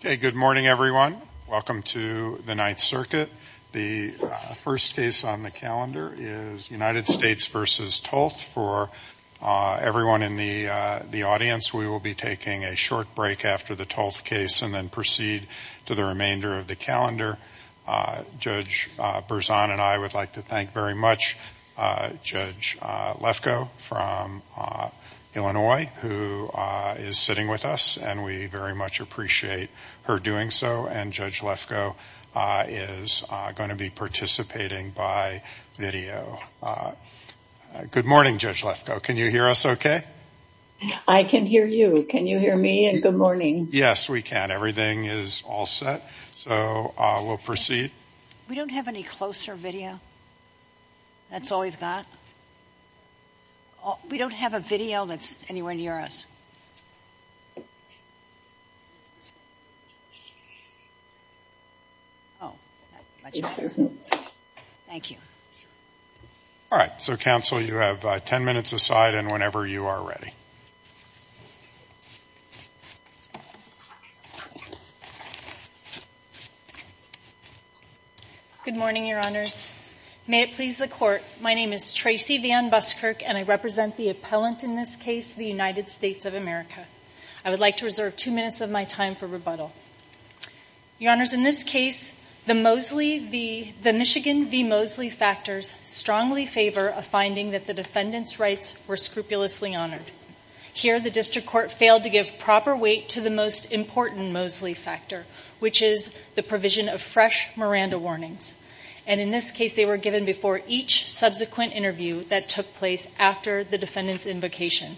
Good morning, everyone. Welcome to the Ninth Circuit. The first case on the calendar is United States v. Tolth. For everyone in the audience, we will be taking a short break after the Tolth case and then proceed to the remainder of the calendar. Judge Berzon and I would like to thank very much Judge Lefkoe from Illinois, who is sitting with us, and we very much appreciate her doing so. And Judge Lefkoe is going to be participating by video. Good morning, Judge Lefkoe. Can you hear us okay? I can hear you. Can you hear me? And good morning. Yes, we can. Everything is all set. So we'll proceed. We don't have any closer video? That's all we've got? We don't have a video that's anywhere near us? Thank you. All right. So, counsel, you have ten minutes aside and whenever you are ready. Good morning, Your Honors. May it please the Court, my name is Tracy Van Buskirk and I represent the appellant in this case, the United States of America. I would like to reserve two minutes of my time for rebuttal. Your Honors, in this case, the Mosley, the Michigan v. Mosley factors strongly favor a finding that the defendant's rights were scrupulously honored. Here, the district court failed to give proper weight to the most important Mosley factor, which is the provision of fresh Miranda warnings. And in this case, they were given before each subsequent interview that took place after the defendant's invocation.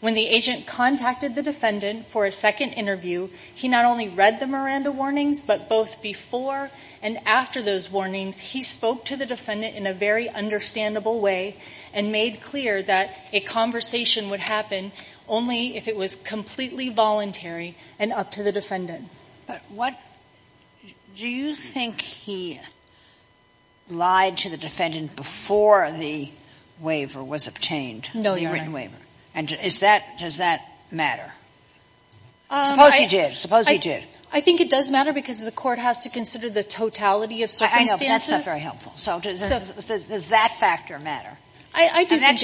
When the agent contacted the defendant for a second interview, he not only read the Miranda warnings, but both before and after those warnings, he spoke to the defendant in a very understandable way and made clear that a conversation would happen only if it was completely voluntary and up to the defendant. But what do you think he lied to the defendant before the waiver was obtained, the written waiver? And does that matter? Suppose he did. Suppose he did. I think it does matter because the court has to consider the totality of circumstances. I know, but that's not very helpful. So does that factor matter? I do think it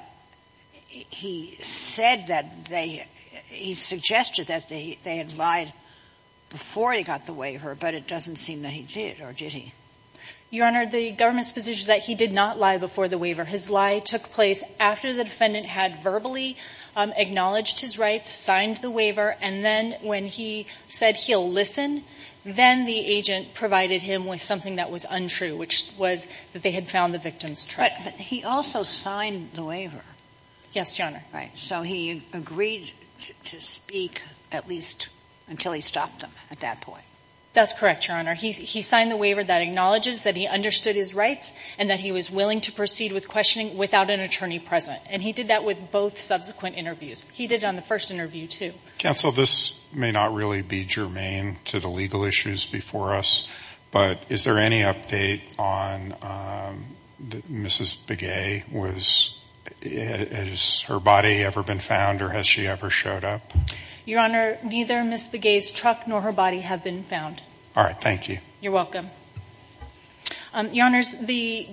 does. He said that they – he suggested that they had lied before he got the waiver, but it doesn't seem that he did, or did he? Your Honor, the government's position is that he did not lie before the waiver. His lie took place after the defendant had verbally acknowledged his rights, signed the waiver, and then when he said he'll listen, then the agent provided him with something that was untrue, which was that they had found the victim's truck. But he also signed the waiver. Yes, Your Honor. Right. So he agreed to speak at least until he stopped him at that point. That's correct, Your Honor. He signed the waiver that acknowledges that he understood his rights and that he was willing to proceed with questioning without an attorney present. And he did that with both subsequent interviews. He did it on the first interview, too. Counsel, this may not really be germane to the legal issues before us, but is there any update on Mrs. Begay? Was – has her body ever been found, or has she ever showed up? Your Honor, neither Mrs. Begay's truck nor her body have been found. All right. Thank you. You're welcome. Your Honors, the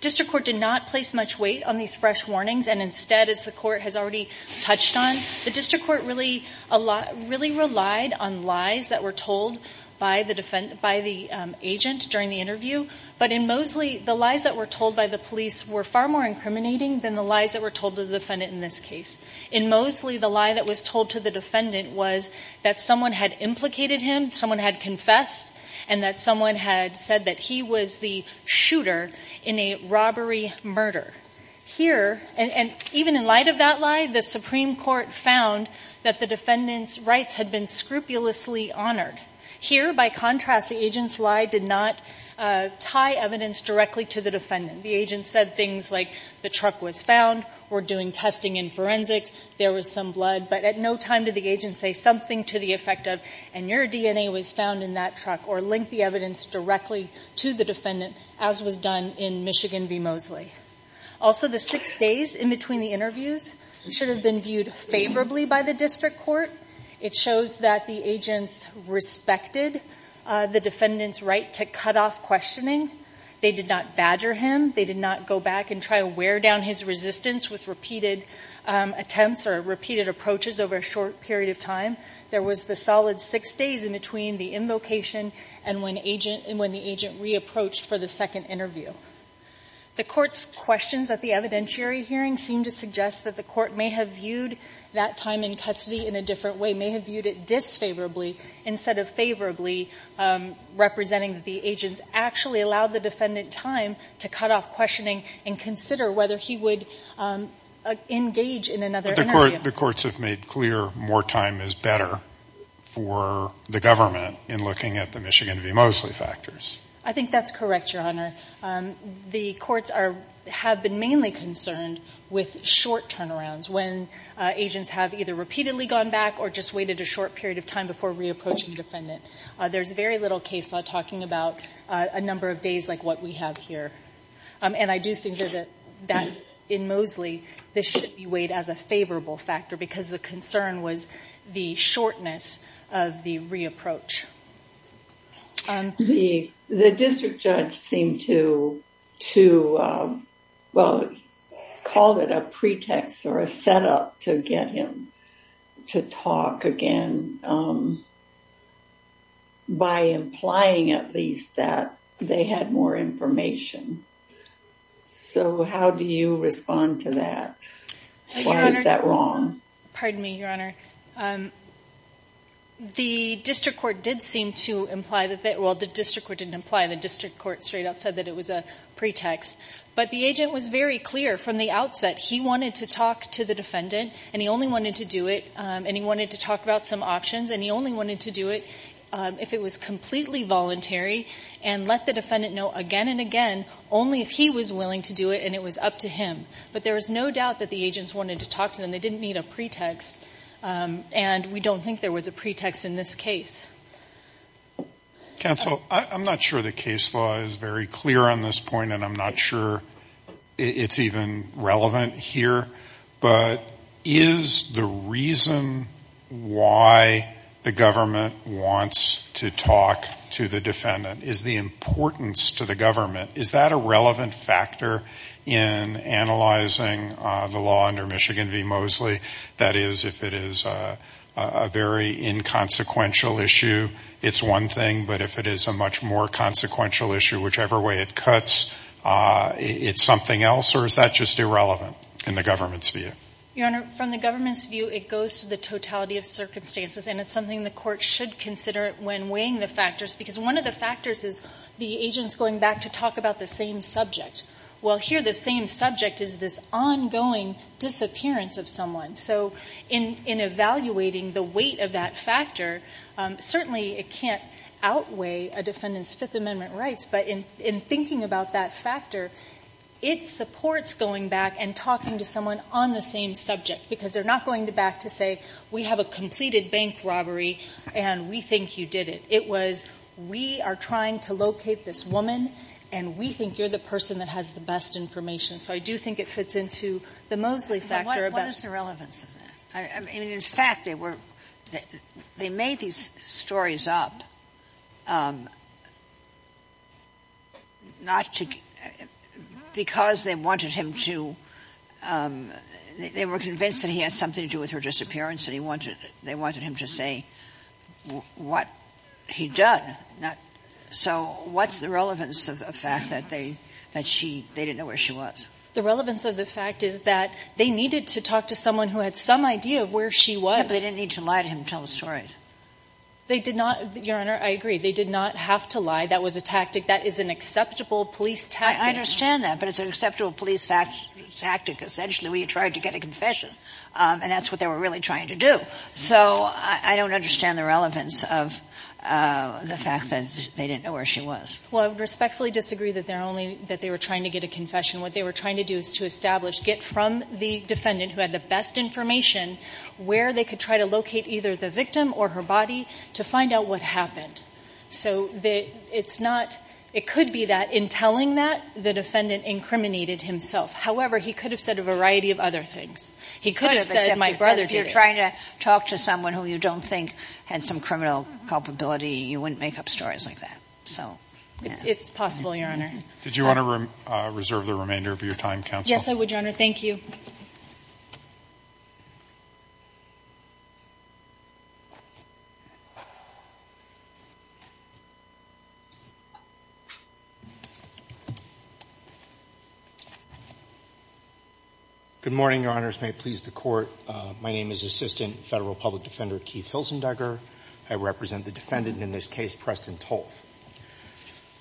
district court did not place much weight on these fresh warnings, and instead, as the court has already touched on, the district court really relied on lies that were told by the agent during the interview. But in Mosley, the lies that were told by the police were far more incriminating than the lies that were told to the defendant in this case. In Mosley, the lie that was told to the defendant was that someone had implicated him, someone had confessed, and that someone had said that he was the shooter in a robbery murder. Here – and even in light of that lie, the Supreme Court found that the defendant's rights had been scrupulously honored. Here, by contrast, the agent's lie did not tie evidence directly to the defendant. The agent said things like, the truck was found, we're doing testing in forensics, there was some blood. But at no time did the agent say something to the effect of, and your DNA was found in that truck, or link the evidence directly to the defendant, as was done in Michigan v. Mosley. Also, the six days in between the interviews should have been viewed favorably by the district court. It shows that the agents respected the defendant's right to cut off questioning. They did not badger him. They did not go back and try to wear down his resistance with repeated attempts or repeated approaches over a short period of time. There was the solid six days in between the invocation and when agent – and when the agent reapproached for the second interview. The Court's questions at the evidentiary hearing seem to suggest that the Court may have viewed that time in custody in a different way, may have viewed it disfavorably instead of favorably, representing that the agents actually allowed the defendant time to cut off questioning and consider whether he would engage in another interview. The courts have made clear more time is better for the government in looking at the Michigan v. Mosley factors. I think that's correct, Your Honor. The courts have been mainly concerned with short turnarounds, when agents have either repeatedly gone back or just waited a short period of time before reapproaching the defendant. There's very little case law talking about a number of days like what we have here. And I do think that in Mosley, this should be weighed as a favorable factor because the concern was the shortness of the reapproach. The district judge seemed to call it a pretext or a setup to get him to talk again by implying at least that they had more information. So how do you respond to that? Why is that wrong? Pardon me, Your Honor. The district court did seem to imply that, well, the district court didn't imply, the district court straight out said that it was a pretext, but the agent was very clear from the outset he wanted to talk to the defendant and he only wanted to do it and he wanted to talk about some options and he only wanted to do it if it was completely voluntary and let the defendant know again and again only if he was willing to do it and it was up to him. But there was no doubt that the agents wanted to talk to him. They didn't need a pretext. And we don't think there was a pretext in this case. Counsel, I'm not sure the case law is very clear on this point, and I'm not sure it's even relevant here. But is the reason why the government wants to talk to the defendant, is the importance to the government, is that a relevant factor in analyzing the law under Michigan v. Mosley? That is, if it is a very inconsequential issue, it's one thing, but if it is a much more consequential issue, whichever way it cuts, it's something else? Or is that just irrelevant in the government's view? Your Honor, from the government's view, it goes to the totality of circumstances, and it's something the court should consider when weighing the factors because one of the factors is the agents going back to talk about the same subject. Well, here the same subject is this ongoing disappearance of someone. So in evaluating the weight of that factor, certainly it can't outweigh a defendant's Fifth Amendment rights, but in thinking about that factor, it supports going back and talking to someone on the same subject, because they're not going back to say, we have a completed bank robbery and we think you did it. It was, we are trying to locate this woman, and we think you're the person that has the best information. So I do think it fits into the Mosley factor. Sotomayor What is the relevance of that? I mean, in fact, they were, they made these stories up not to, because they wanted him to, they were convinced that he had something to do with her disappearance and they wanted him to say what he'd done. So what's the relevance of the fact that they, that she, they didn't know where she was? The relevance of the fact is that they needed to talk to someone who had some idea of where she was. But they didn't need to lie to him and tell the stories. They did not, Your Honor, I agree. They did not have to lie. That was a tactic. That is an acceptable police tactic. I understand that, but it's an acceptable police tactic. Essentially, we tried to get a confession, and that's what they were really trying to do. So I don't understand the relevance of the fact that they didn't know where she was. Well, I would respectfully disagree that they're only, that they were trying to get a confession. What they were trying to do is to establish, get from the defendant who had the best information, where they could try to locate either the victim or her body to find out what happened. So it's not, it could be that in telling that, the defendant incriminated himself. However, he could have said a variety of other things. He could have said my brother did it. If you're trying to talk to someone who you don't think had some criminal culpability, you wouldn't make up stories like that. It's possible, Your Honor. Did you want to reserve the remainder of your time, Counsel? Yes, I would, Your Honor. Thank you. Good morning, Your Honors. May it please the Court. My name is Assistant Federal Public Defender Keith Hilsendugger. I represent the defendant in this case, Preston Tolf.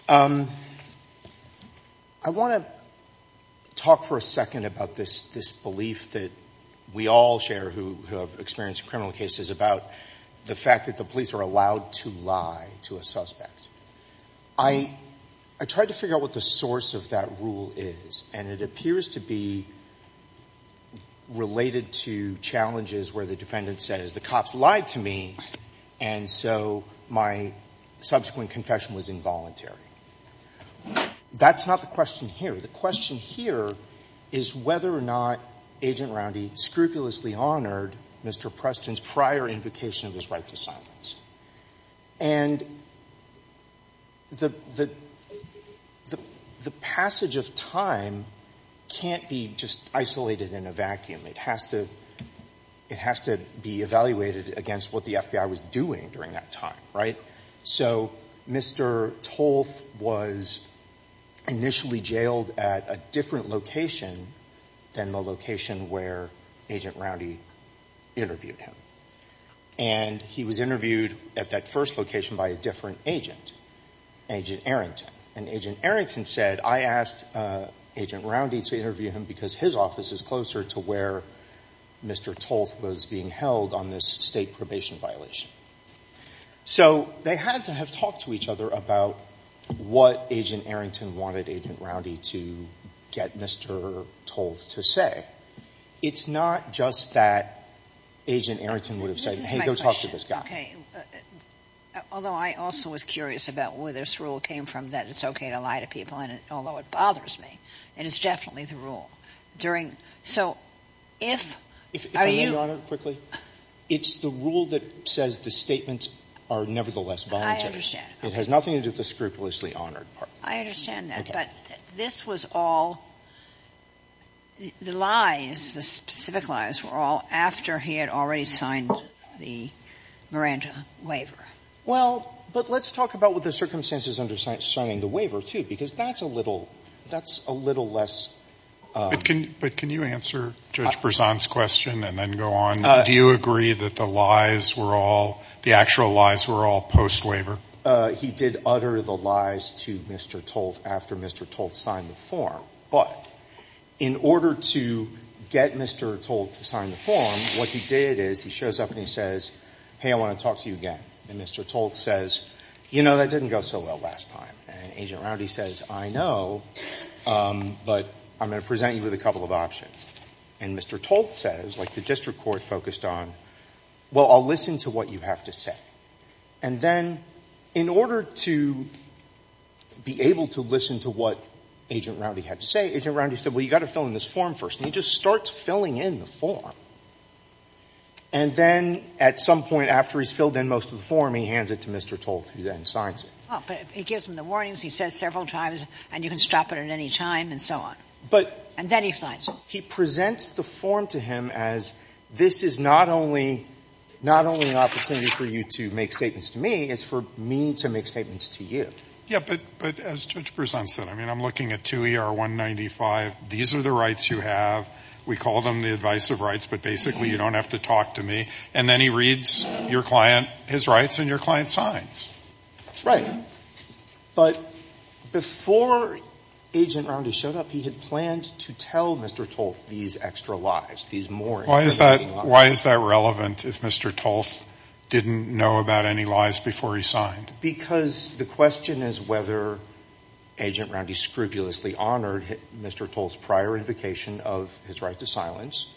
I want to talk for a second about this belief that we all share who have experienced criminal cases about the fact that the police are allowed to lie to a suspect. I tried to figure out what the source of that rule is, and it appears to be related to challenges where the defendant says, the cops lied to me, and so my subsequent confession was involuntary. That's not the question here. The question here is whether or not Agent Roundy scrupulously honored Mr. Preston's prior invocation of his right to silence. And the passage of time can't be just isolated in a vacuum. It has to be evaluated against what the FBI was doing during that time, right? So Mr. Tolf was initially jailed at a different location than the location where Agent Roundy interviewed him. And he was interviewed at that first location by a different agent, Agent Arrington. And Agent Arrington said, I asked Agent Roundy to interview him because his office is closer to where Mr. Tolf was being held on this State probation violation. So they had to have talked to each other about what Agent Arrington wanted Agent Roundy to get Mr. Tolf to say. It's not just that Agent Arrington would have said, hey, go talk to this guy. Although I also was curious about where this rule came from, that it's okay to lie to people, although it bothers me. And it's definitely the rule. During so if are you. If I may be honored quickly. It's the rule that says the statements are nevertheless voluntary. I understand. It has nothing to do with the scrupulously honored part. I understand that. But this was all, the lies, the specific lies were all after he had already signed the Miranda waiver. Well, but let's talk about what the circumstances under signing the waiver, too, because that's a little, that's a little less. But can you answer Judge Berzon's question and then go on? Do you agree that the lies were all, the actual lies were all post waiver? He did utter the lies to Mr. Tolf after Mr. Tolf signed the form. But in order to get Mr. Tolf to sign the form, what he did is he shows up and he says, hey, I want to talk to you again. And Mr. Tolf says, you know, that didn't go so well last time. And Agent Rowdy says, I know, but I'm going to present you with a couple of options. And Mr. Tolf says, like the district court focused on, well, I'll listen to what you have to say. And then in order to be able to listen to what Agent Rowdy had to say, Agent Rowdy said, well, you've got to fill in this form first. And he just starts filling in the form. And then at some point after he's filled in most of the form, he hands it to Mr. Tolf, who then signs it. Oh, but he gives him the warnings. He says several times, and you can stop it at any time, and so on. But he presents the form to him as this is not only, not only an opportunity for you to make statements to me, it's for me to make statements to you. Yeah, but as Judge Breslin said, I mean, I'm looking at 2 ER 195. These are the rights you have. We call them the advisive rights, but basically you don't have to talk to me. And then he reads your client, his rights, and your client's signs. Right. But before Agent Rowdy showed up, he had planned to tell Mr. Tolf these extra lives, these more important lives. Why is that relevant if Mr. Tolf didn't know about any lives before he signed? Because the question is whether Agent Rowdy scrupulously honored Mr. Tolf's prior invocation of his right to silence,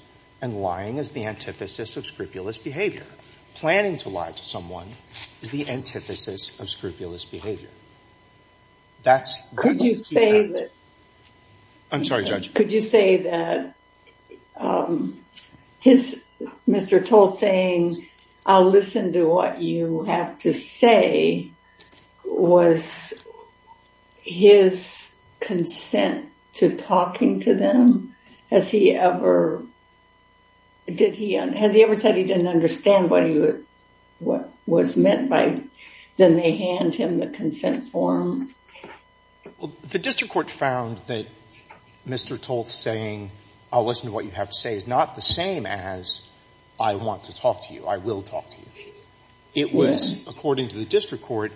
and lying is the antithesis of scrupulous behavior. Planning to lie to someone is the antithesis of scrupulous behavior. Could you say that? Mr. Tolf saying, I'll listen to what you have to say, was his consent to talking to them? Has he ever said he didn't understand what was meant by, then they hand him the consent form? The district court found that Mr. Tolf saying, I'll listen to what you have to say, was not the same as, I want to talk to you, I will talk to you. It was, according to the district court,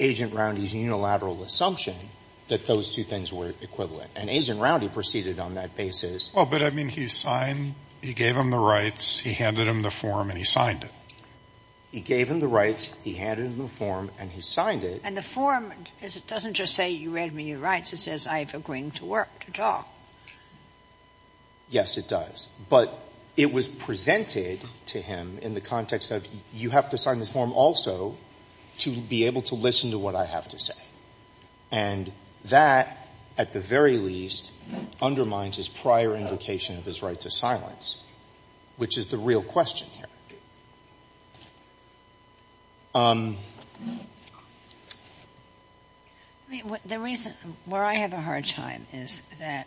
Agent Rowdy's unilateral assumption that those two things were equivalent. And Agent Rowdy proceeded on that basis. Well, but, I mean, he signed, he gave him the rights, he handed him the form, and he signed it. He gave him the rights, he handed him the form, and he signed it. And the form, it doesn't just say you read me your rights. It says I have agreeing to work, to talk. Yes, it does. But it was presented to him in the context of, you have to sign this form also to be able to listen to what I have to say. And that, at the very least, undermines his prior invocation of his right to silence, which is the real question here. I mean, the reason, where I have a hard time is that,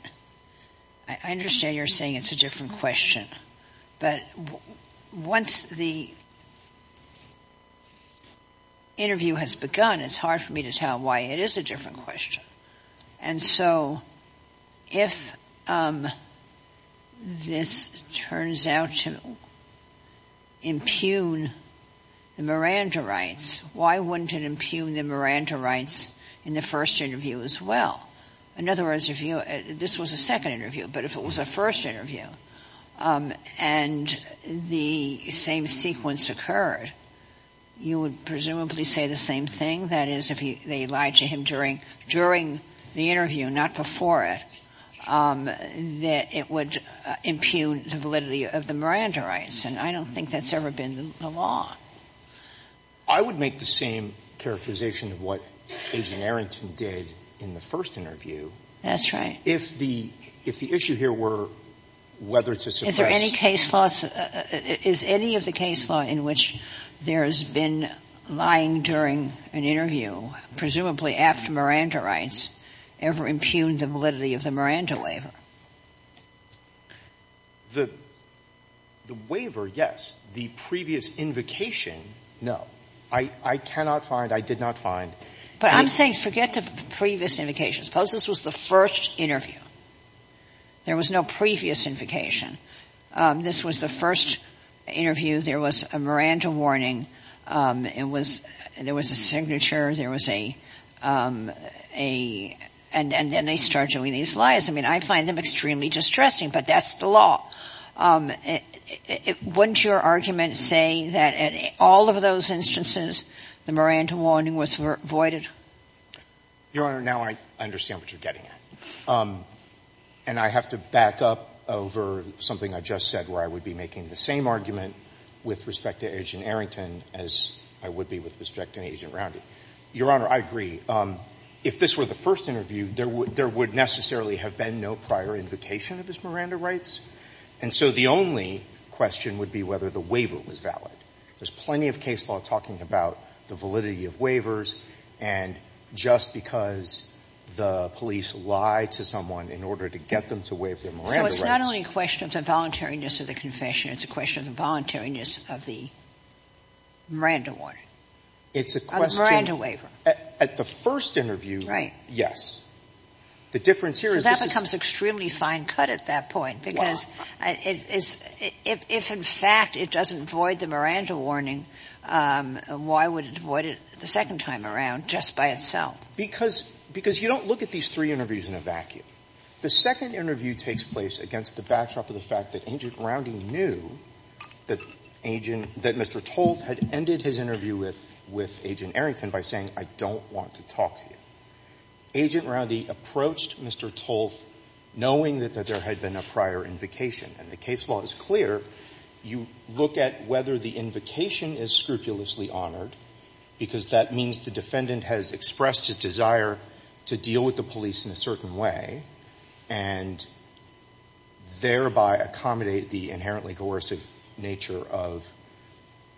I understand you're saying it's a different question, but once the interview has begun, it's hard for me to tell why it is a different question. And so, if this turns out to impugn the Miranda rights, why wouldn't it impugn the Miranda rights in the first interview as well? In other words, if this was a second interview, but if it was a first interview, and the same sequence occurred, you would presumably say the same thing. That is, if they lied to him during the interview, not before it, that it would impugn the validity of the Miranda rights. And I don't think that's ever been the law. I would make the same characterization of what Agent Arrington did in the first interview. That's right. If the issue here were whether to suppress. Is there any case law? Is any of the case law in which there has been lying during an interview, presumably after Miranda rights, ever impugned the validity of the Miranda waiver? The waiver, yes. The previous invocation, no. I cannot find, I did not find. But I'm saying forget the previous invocation. Suppose this was the first interview. There was no previous invocation. This was the first interview. There was a Miranda warning. It was, there was a signature. There was a, a, and then they start doing these lies. I mean, I find them extremely distressing, but that's the law. Wouldn't your argument say that in all of those instances, the Miranda warning was voided? Your Honor, now I understand what you're getting at. And I have to back up over something I just said where I would be making the same argument with respect to Agent Arrington as I would be with respect to Agent Roundy. Your Honor, I agree. If this were the first interview, there would, there would necessarily have been no prior invocation of his Miranda rights. And so the only question would be whether the waiver was valid. There's plenty of case law talking about the validity of waivers. And just because the police lied to someone in order to get them to waive their Miranda rights. So it's not only a question of the voluntariness of the confession. It's a question of the voluntariness of the Miranda warning. It's a question. Of the Miranda waiver. At the first interview, yes. Right. The difference here is this is. So that becomes extremely fine cut at that point. Wow. Because it's, if in fact it doesn't void the Miranda warning, why would it void it the second time around just by itself? Because, because you don't look at these three interviews in a vacuum. The second interview takes place against the backdrop of the fact that Agent Roundy knew that Agent, that Mr. Tolff had ended his interview with, with Agent Arrington by saying I don't want to talk to you. Agent Roundy approached Mr. Tolff knowing that there had been a prior invocation. And the case law is clear. You look at whether the invocation is scrupulously honored. Because that means the defendant has expressed his desire to deal with the police in a certain way. And thereby accommodate the inherently coercive nature of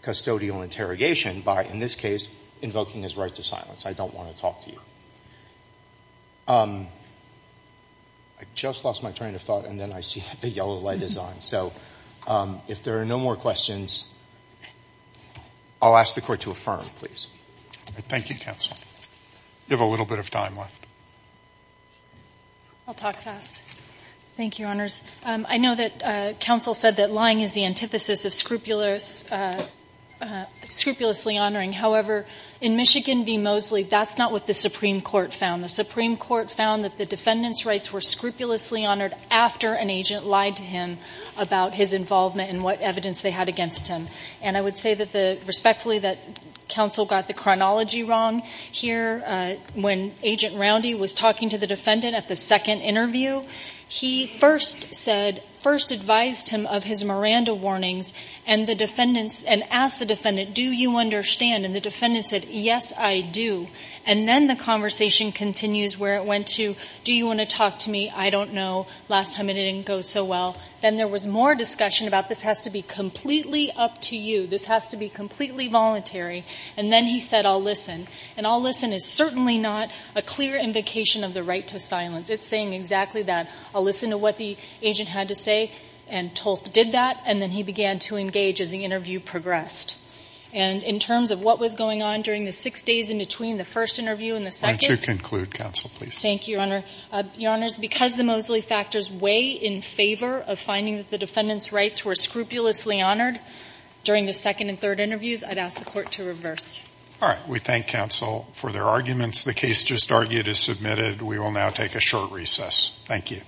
custodial interrogation by, in this case, invoking his right to silence. I don't want to talk to you. I just lost my train of thought and then I see the yellow light is on. So if there are no more questions, I'll ask the Court to affirm, please. Thank you, counsel. You have a little bit of time left. I'll talk fast. Thank you, Your Honors. I know that counsel said that lying is the antithesis of scrupulously honoring. However, in Michigan v. Mosley, that's not what the Supreme Court found. The Supreme Court found that the defendant's rights were scrupulously honored after an agent lied to him about his involvement and what evidence they had against him. And I would say respectfully that counsel got the chronology wrong here. When Agent Roundy was talking to the defendant at the second interview, he first advised him of his Miranda warnings and asked the defendant, do you understand? And the defendant said, yes, I do. And then the conversation continues where it went to, do you want to talk to me? I don't know. Last time it didn't go so well. Then there was more discussion about this has to be completely up to you. This has to be completely voluntary. And then he said, I'll listen. And I'll listen is certainly not a clear invocation of the right to silence. It's saying exactly that. I'll listen to what the agent had to say. And Tolf did that. And then he began to engage as the interview progressed. And in terms of what was going on during the six days in between the first interview and the second. Why don't you conclude, counsel, please. Thank you, Your Honor. Your Honor, because the Mosley factors weigh in favor of finding that the defendant's rights were scrupulously honored during the second and third interviews, I'd ask the Court to reverse. All right. We thank counsel for their arguments. The case just argued is submitted. We will now take a short recess. Thank you.